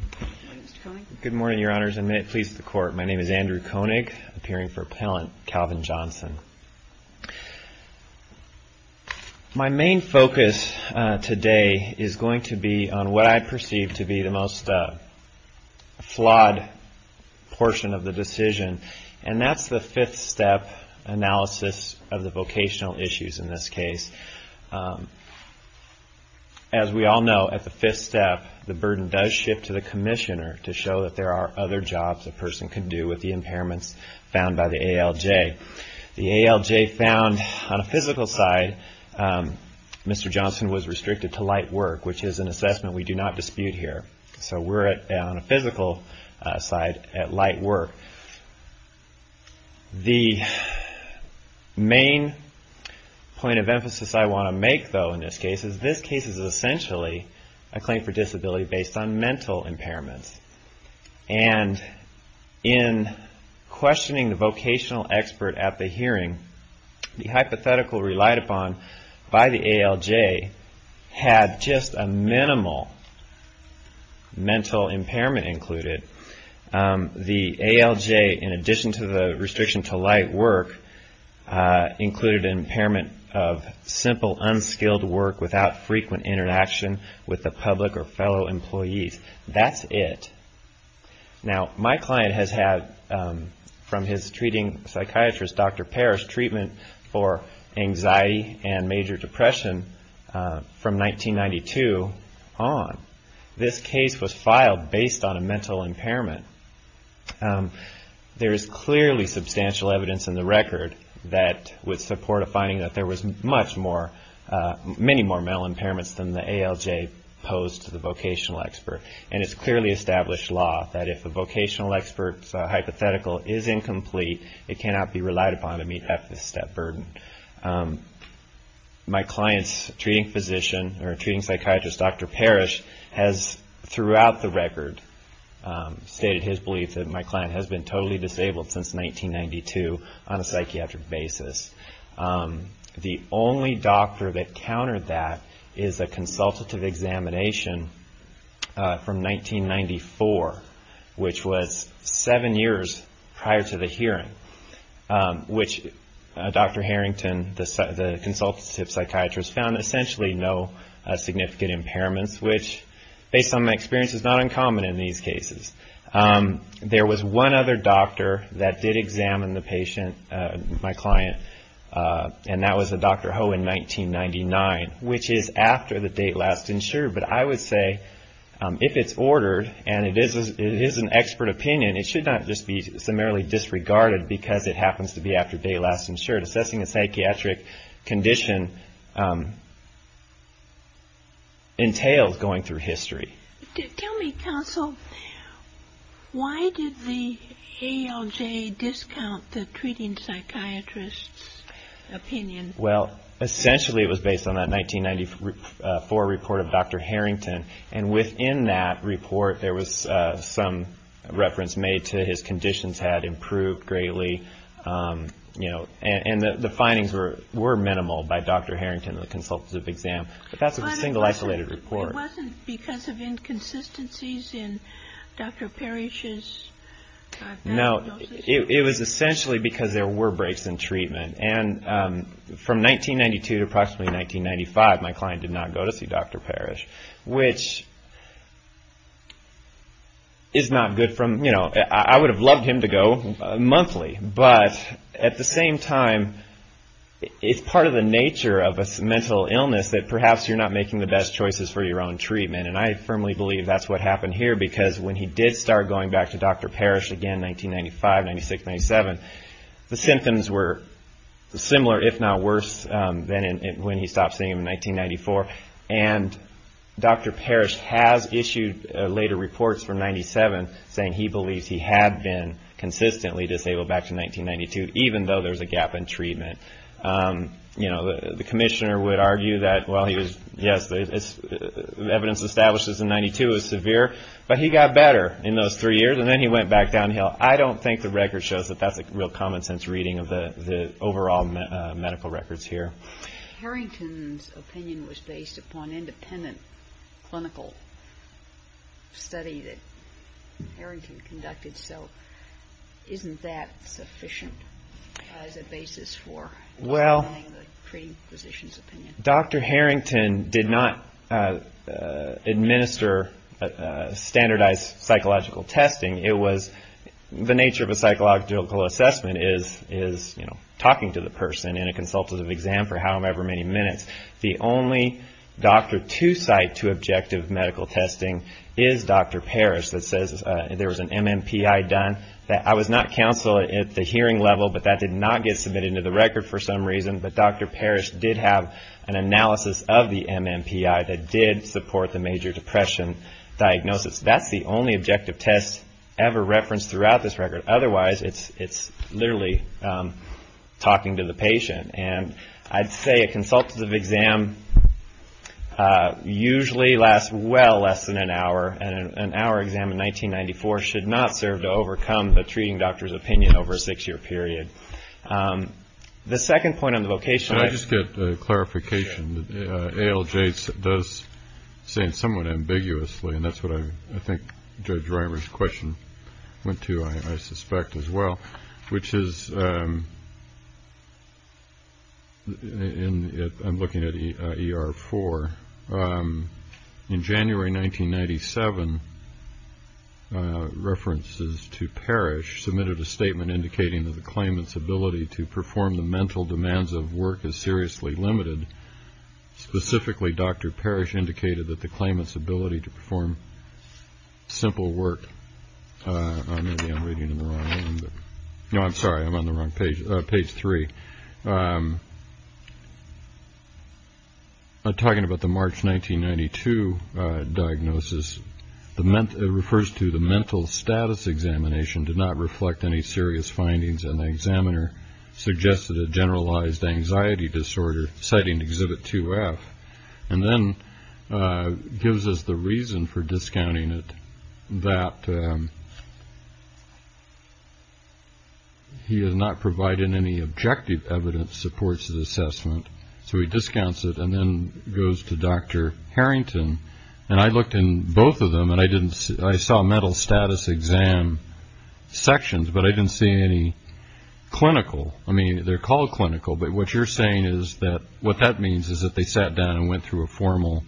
My name is Andrew Koenig, appearing for Appellant Calvin Johnson. My main focus today is going to be on what I perceive to be the most flawed portion of the decision, and that's the fifth step analysis of the vocational issues in this case. As we all know, at the fifth step, the burden does shift to the commissioner to show that there are other jobs a person can do with the impairments found by the ALJ. The ALJ found on a physical side, Mr. Johnson was restricted to light work, which is an assessment we do not dispute here. So we're on a physical side at light work. The main point of emphasis I want to make, though, in this case, is this case is essentially a claim for disability based on mental impairments, and in questioning the vocational expert at the hearing, the hypothetical relied upon by the ALJ had just a minimal mental impairment included. The ALJ, in addition to the restriction to light work, included an impairment of simple unskilled work without frequent interaction with the public or fellow employees. That's it. Now my client has had, from his treating psychiatrist, Dr. Parrish, treatment for anxiety and major depression from 1992 on. This case was filed based on a mental impairment. There is clearly substantial evidence in the record that would support a finding that there was many more mental impairments than the ALJ posed to the vocational expert, and it's clearly established law that if a vocational expert's hypothetical is incomplete, it cannot be relied upon to meet that fifth step burden. My client's treating psychiatrist, Dr. Parrish, has throughout the record stated his belief that my client has been totally disabled since 1992 on a psychiatric basis. The only doctor that countered that is a consultative examination from 1994, which was seven years prior to the hearing, which Dr. Harrington, the consultative psychiatrist, found essentially no significant impairments, which, based on my experience, is not uncommon in these cases. There was one other doctor that did examine the patient, my client, and that was Dr. Ho in 1999, which is after the date last insured, but I would say if it's ordered and it is an expert opinion, it should not just be summarily disregarded because it happens to be after date last insured. Assessing a psychiatric condition entails going through history. Tell me, counsel, why did the ALJ discount the treating psychiatrist's opinion? Well, essentially it was based on that 1994 report of Dr. Harrington, and within that report, there was some reference made to his conditions had improved greatly, and the findings were minimal by Dr. Harrington and the consultative exam, but that's a single isolated report. But it wasn't because of inconsistencies in Dr. Parrish's diagnosis? No, it was essentially because there were breaks in treatment, and from 1992 to approximately 1995, my client did not go to see Dr. Parrish, which is not good. I would have loved him to go monthly, but at the same time, it's part of the nature of a mental illness that perhaps you're not making the best choices for your own treatment, and I firmly believe that's what happened here because when he did start going back to Dr. Parrish again in 1995, 96, 97, the symptoms were similar, if not worse, than when he stopped seeing him in 1994. And Dr. Parrish has issued later reports from 97 saying he believes he had been consistently disabled back to 1992, even though there's a gap in treatment. You know, the commissioner would argue that, well, yes, the evidence establishes in 92 is I don't think the record shows that that's a real common sense reading of the overall medical records here. Harrington's opinion was based upon independent clinical study that Harrington conducted, so isn't that sufficient as a basis for denying the treating physician's opinion? Dr. Harrington did not administer standardized psychological testing. The nature of a psychological assessment is talking to the person in a consultative exam for however many minutes. The only doctor to cite to objective medical testing is Dr. Parrish that says there was an MMPI done. I was not counsel at the hearing level, but that did not get submitted into the record for some reason, but Dr. Parrish did have an analysis of the MMPI that did support the major depression diagnosis. That's the only objective test ever referenced throughout this record. Otherwise, it's literally talking to the patient. And I'd say a consultative exam usually lasts well less than an hour, and an hour exam in 1994 should not serve to overcome the treating doctor's opinion over a six-year period. The second point on the vocation. I just get a clarification. ALJ does say somewhat ambiguously, and that's what I think Judge Reimer's question went to, I suspect, as well, which is I'm looking at ER-4. In January 1997, references to Parrish submitted a statement indicating that the claimant's ability to perform the mental demands of work is seriously limited. Specifically, Dr. Parrish indicated that the claimant's ability to perform simple work. Maybe I'm reading it in the wrong hand. No, I'm sorry. I'm on the wrong page, page three. I'm talking about the March 1992 diagnosis. It refers to the mental status examination did not reflect any serious findings, and the examiner suggested a generalized anxiety disorder, citing Exhibit 2F, and then gives us the reason for discounting it, that he is not providing any objective evidence to support his assessment. So he discounts it and then goes to Dr. Harrington. And I looked in both of them, and I saw mental status exam sections, but I didn't see any clinical. I mean, they're called clinical, but what you're saying is that what that means is that they sat down and went through a formal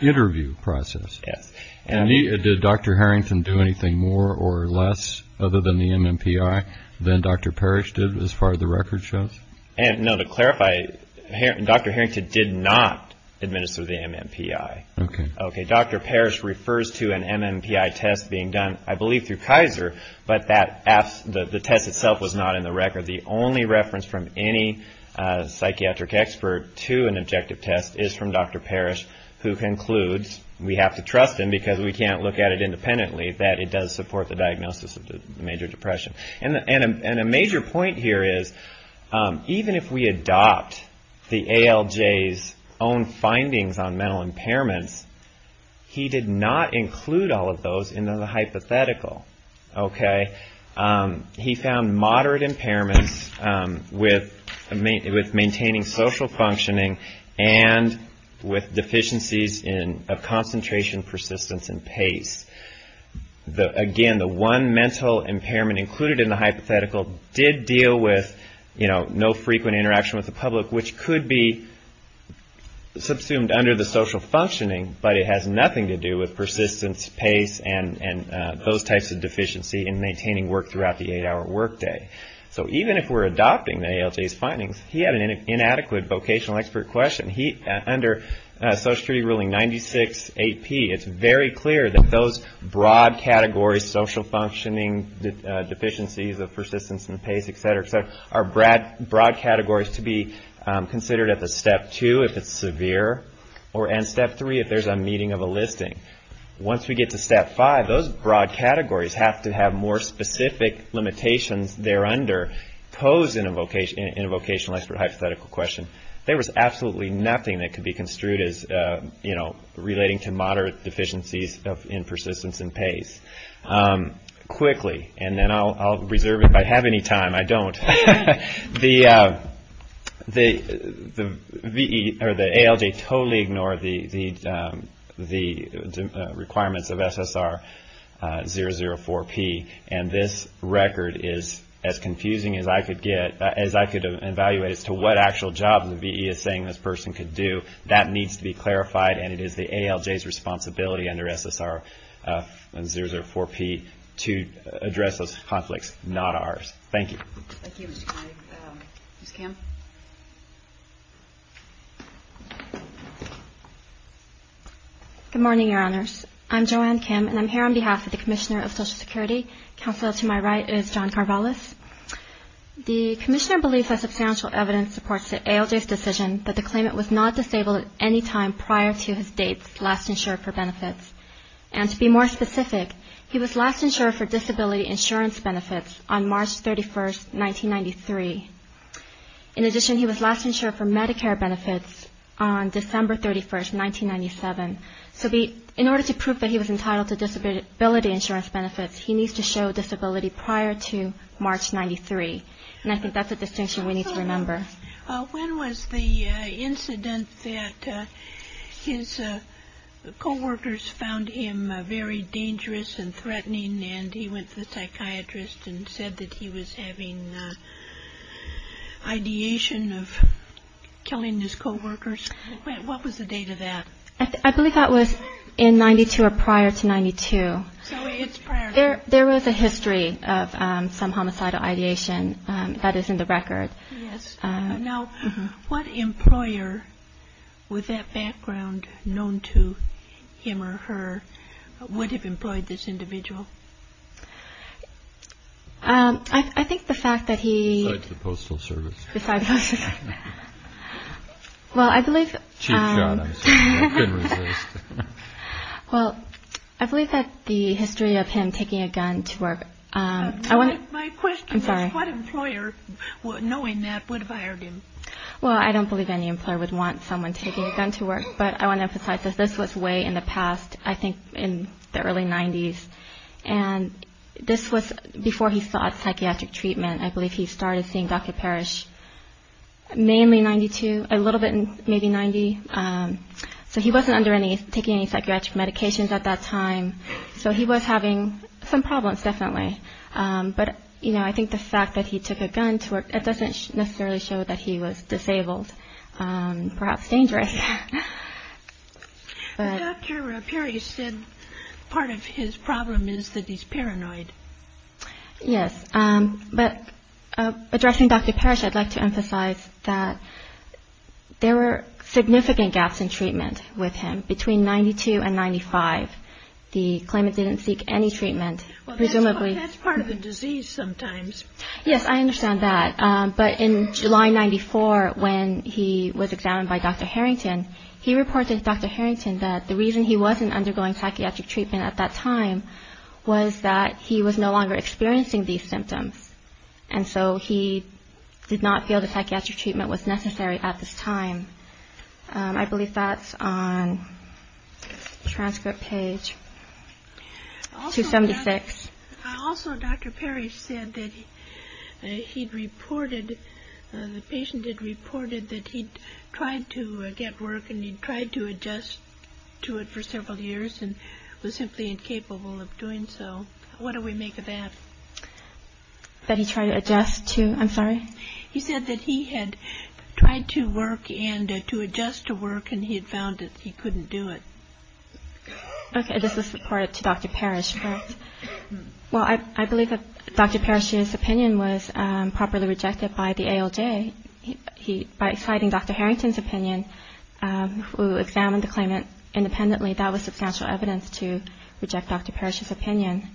interview process. Yes. And did Dr. Harrington do anything more or less other than the MMPI than Dr. Parrish did as far as the record shows? No, to clarify, Dr. Harrington did not administer the MMPI. Okay. Dr. Parrish refers to an MMPI test being done, I believe, through Kaiser, but the test itself was not in the record. The only reference from any psychiatric expert to an objective test is from Dr. Parrish, who concludes, we have to trust him because we can't look at it independently, that it does support the diagnosis of the major depression. And a major point here is, even if we adopt the ALJ's own findings on mental impairments, he did not include all of those in the hypothetical. Okay? He found moderate impairments with maintaining social functioning and with deficiencies in concentration, persistence, and pace. Again, the one mental impairment included in the hypothetical did deal with, you know, no frequent interaction with the public, which could be subsumed under the social functioning, but it has nothing to do with persistence, pace, and those types of deficiency in maintaining work throughout the eight-hour workday. So even if we're adopting the ALJ's findings, he had an inadequate vocational expert question. Under Social Security Ruling 96-8P, it's very clear that those broad categories, social functioning, deficiencies of persistence and pace, et cetera, et cetera, are broad categories to be considered at the step two if it's severe, and step three if there's a meeting of a listing. Once we get to step five, those broad categories have to have more specific limitations thereunder posed in a vocational expert hypothetical question. There was absolutely nothing that could be construed as, you know, relating to moderate deficiencies in persistence and pace. Quickly, and then I'll reserve it if I have any time. I don't. The ALJ totally ignored the requirements of SSR 004P, and this record is as confusing as I could get, as I could evaluate as to what actual job the VE is saying this person could do. That needs to be clarified, and it is the ALJ's responsibility under SSR 004P to address those conflicts, not ours. Thank you. Ms. Kim. Good morning, Your Honors. I'm Joanne Kim, and I'm here on behalf of the Commissioner of Social Security. Counsel to my right is John Karbalas. The Commissioner believes that substantial evidence supports the ALJ's decision that the claimant was not disabled at any time prior to his date last insured for benefits. And to be more specific, he was last insured for disability insurance benefits on March 31, 1993. In addition, he was last insured for Medicare benefits on December 31, 1997. So in order to prove that he was entitled to disability insurance benefits, he needs to show disability prior to March 93, and I think that's a distinction we need to remember. When was the incident that his coworkers found him very dangerous and threatening, and he went to the psychiatrist and said that he was having ideation of killing his coworkers? What was the date of that? I believe that was in 92 or prior to 92. So it's prior. There was a history of some homicidal ideation that is in the record. Yes. Now, what employer with that background known to him or her would have employed this individual? I think the fact that he- Besides the Postal Service. Besides the Postal Service. Well, I believe- Chief John, I'm sorry. I couldn't resist. Well, I believe that the history of him taking a gun to work- My question is- I'm sorry. What employer, knowing that, would have hired him? Well, I don't believe any employer would want someone taking a gun to work, but I want to emphasize that this was way in the past, I think in the early 90s, and this was before he sought psychiatric treatment. I believe he started seeing Dr. Parrish mainly in 92, a little bit in maybe 90. So he wasn't taking any psychiatric medications at that time, so he was having some problems, definitely. But, you know, I think the fact that he took a gun to work, it doesn't necessarily show that he was disabled, perhaps dangerous. But Dr. Parrish said part of his problem is that he's paranoid. Yes. But addressing Dr. Parrish, I'd like to emphasize that there were significant gaps in treatment with him. Between 92 and 95, the claimant didn't seek any treatment. Well, that's part of the disease sometimes. Yes, I understand that. But in July 94, when he was examined by Dr. Harrington, he reported to Dr. Harrington that the reason he wasn't undergoing psychiatric treatment at that time was that he was no longer experiencing these symptoms, and so he did not feel the psychiatric treatment was necessary at this time. I believe that's on the transcript page. 276. Also, Dr. Parrish said that he'd reported, the patient had reported that he'd tried to get work and he'd tried to adjust to it for several years and was simply incapable of doing so. What do we make of that? That he tried to adjust to, I'm sorry? He said that he had tried to work and to adjust to work and he had found that he couldn't do it. Okay, this was reported to Dr. Parrish. Well, I believe that Dr. Parrish's opinion was properly rejected by the ALJ. By citing Dr. Harrington's opinion, who examined the claimant independently, that was substantial evidence to reject Dr. Parrish's opinion.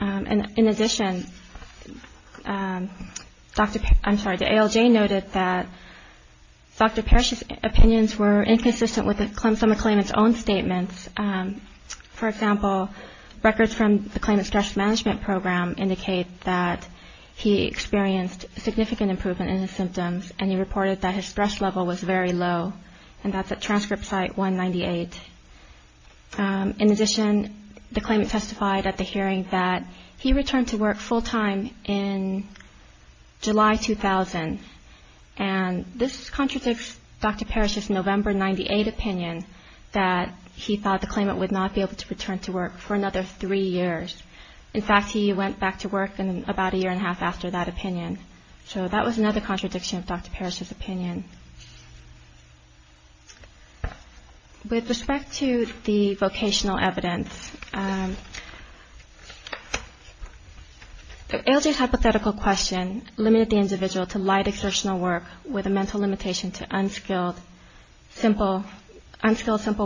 In addition, I'm sorry, the ALJ noted that Dr. Parrish's opinions were inconsistent with the claimant's own statements. For example, records from the claimant's stress management program indicate that he experienced significant improvement in his symptoms and he reported that his stress level was very low, and that's at transcript site 198. In addition, the claimant testified at the hearing that he returned to work full-time in July 2000. And this contradicts Dr. Parrish's November 98 opinion that he thought the claimant would not be able to return to work for another three years. In fact, he went back to work about a year and a half after that opinion. So that was another contradiction of Dr. Parrish's opinion. With respect to the vocational evidence, ALJ's hypothetical question limited the individual to light exertional work with a mental limitation to unskilled simple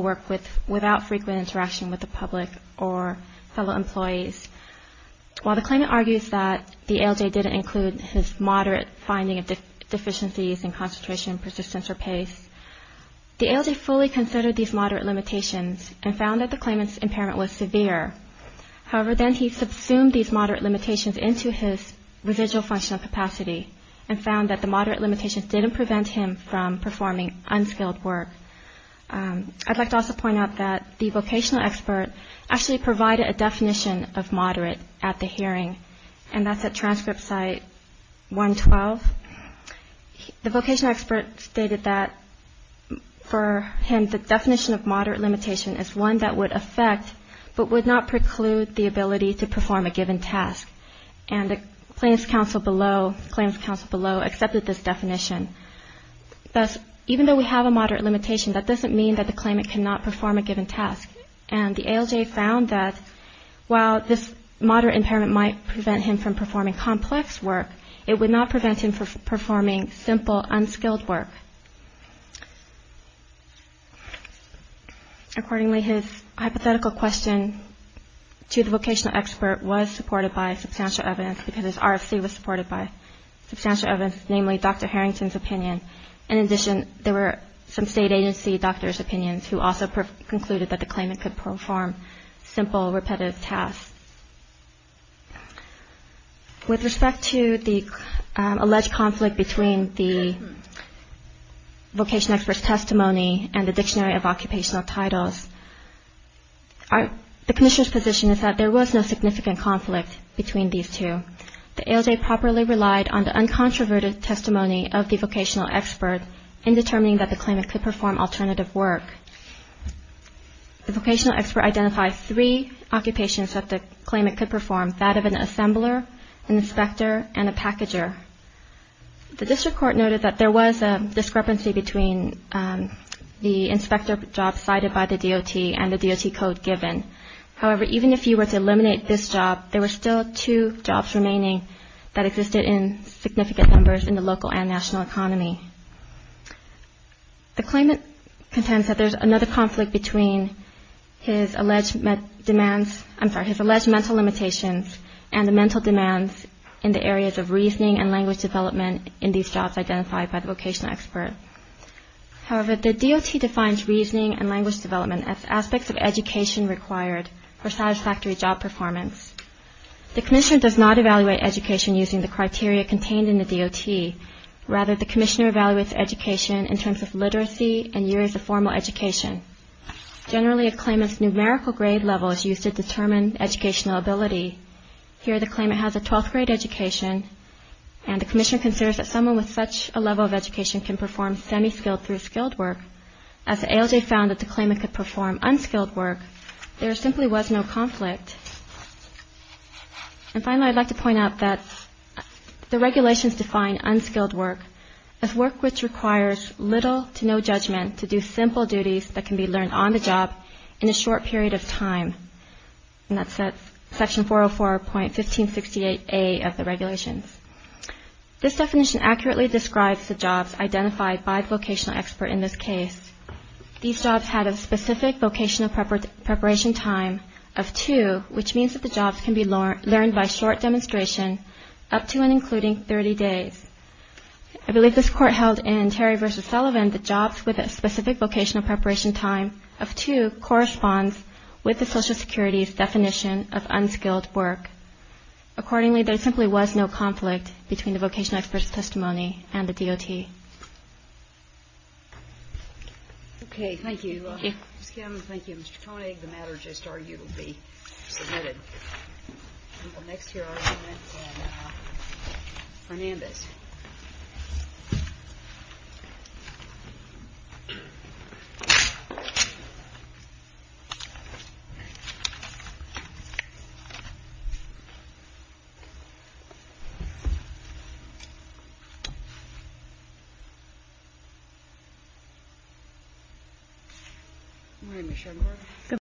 work without frequent interaction with the public or fellow employees. While the claimant argues that the ALJ didn't include his moderate finding of deficiencies in concentration and persistence or pace, the ALJ fully considered these moderate limitations and found that the claimant's impairment was severe. However, then he subsumed these moderate limitations into his residual functional capacity and found that the moderate limitations didn't prevent him from performing unskilled work. I'd like to also point out that the vocational expert actually provided a definition of moderate at the hearing, and that's at transcript site 112. The vocational expert stated that for him the definition of moderate limitation is one that would affect but would not preclude the ability to perform a given task. And the plaintiff's counsel below accepted this definition. Thus, even though we have a moderate limitation, that doesn't mean that the claimant cannot perform a given task. And the ALJ found that while this moderate impairment might prevent him from performing complex work, it would not prevent him from performing simple, unskilled work. Accordingly, his hypothetical question to the vocational expert was supported by substantial evidence because his RFC was supported by substantial evidence, namely Dr. Harrington's opinion. In addition, there were some state agency doctors' opinions who also concluded that the claimant could perform simple, repetitive tasks. With respect to the alleged conflict between the vocational expert's testimony and the Dictionary of Occupational Titles, the Commissioner's position is that there was no significant conflict between these two. The ALJ properly relied on the uncontroverted testimony of the vocational expert in determining that the claimant could perform alternative work. The vocational expert identified three occupations that the claimant could perform, that of an assembler, an inspector, and a packager. The district court noted that there was a discrepancy between the inspector job cited by the DOT and the DOT code given. However, even if you were to eliminate this job, there were still two jobs remaining that existed in significant numbers in the local and national economy. The claimant contends that there's another conflict between his alleged mental limitations and the mental demands in the areas of reasoning and language development in these jobs identified by the vocational expert. However, the DOT defines reasoning and language development as aspects of education required for satisfactory job performance. The Commissioner does not evaluate education using the criteria contained in the DOT. Rather, the Commissioner evaluates education in terms of literacy and years of formal education. Generally, a claimant's numerical grade level is used to determine educational ability. Here, the claimant has a 12th grade education, and the Commissioner considers that someone with such a level of education can perform semi-skilled through skilled work. As the ALJ found that the claimant could perform unskilled work, there simply was no conflict. And finally, I'd like to point out that the regulations define unskilled work as work which requires little to no judgment to do simple duties that can be learned on the job in a short period of time. And that's at section 404.1568A of the regulations. This definition accurately describes the jobs identified by the vocational expert in this case. These jobs had a specific vocational preparation time of two, which means that the jobs can be learned by short demonstration up to and including 30 days. I believe this Court held in Terry v. Sullivan that jobs with a specific vocational preparation time of two corresponds with the Social Security's definition of unskilled work. Accordingly, there simply was no conflict between the vocational expert's testimony and the DOT. Okay. Okay, thank you, Ms. Kim. Thank you, Mr. Koenig. The matter just argued will be submitted. And next to her are Annette and Fernandez. Good morning, Ms. Schenberg.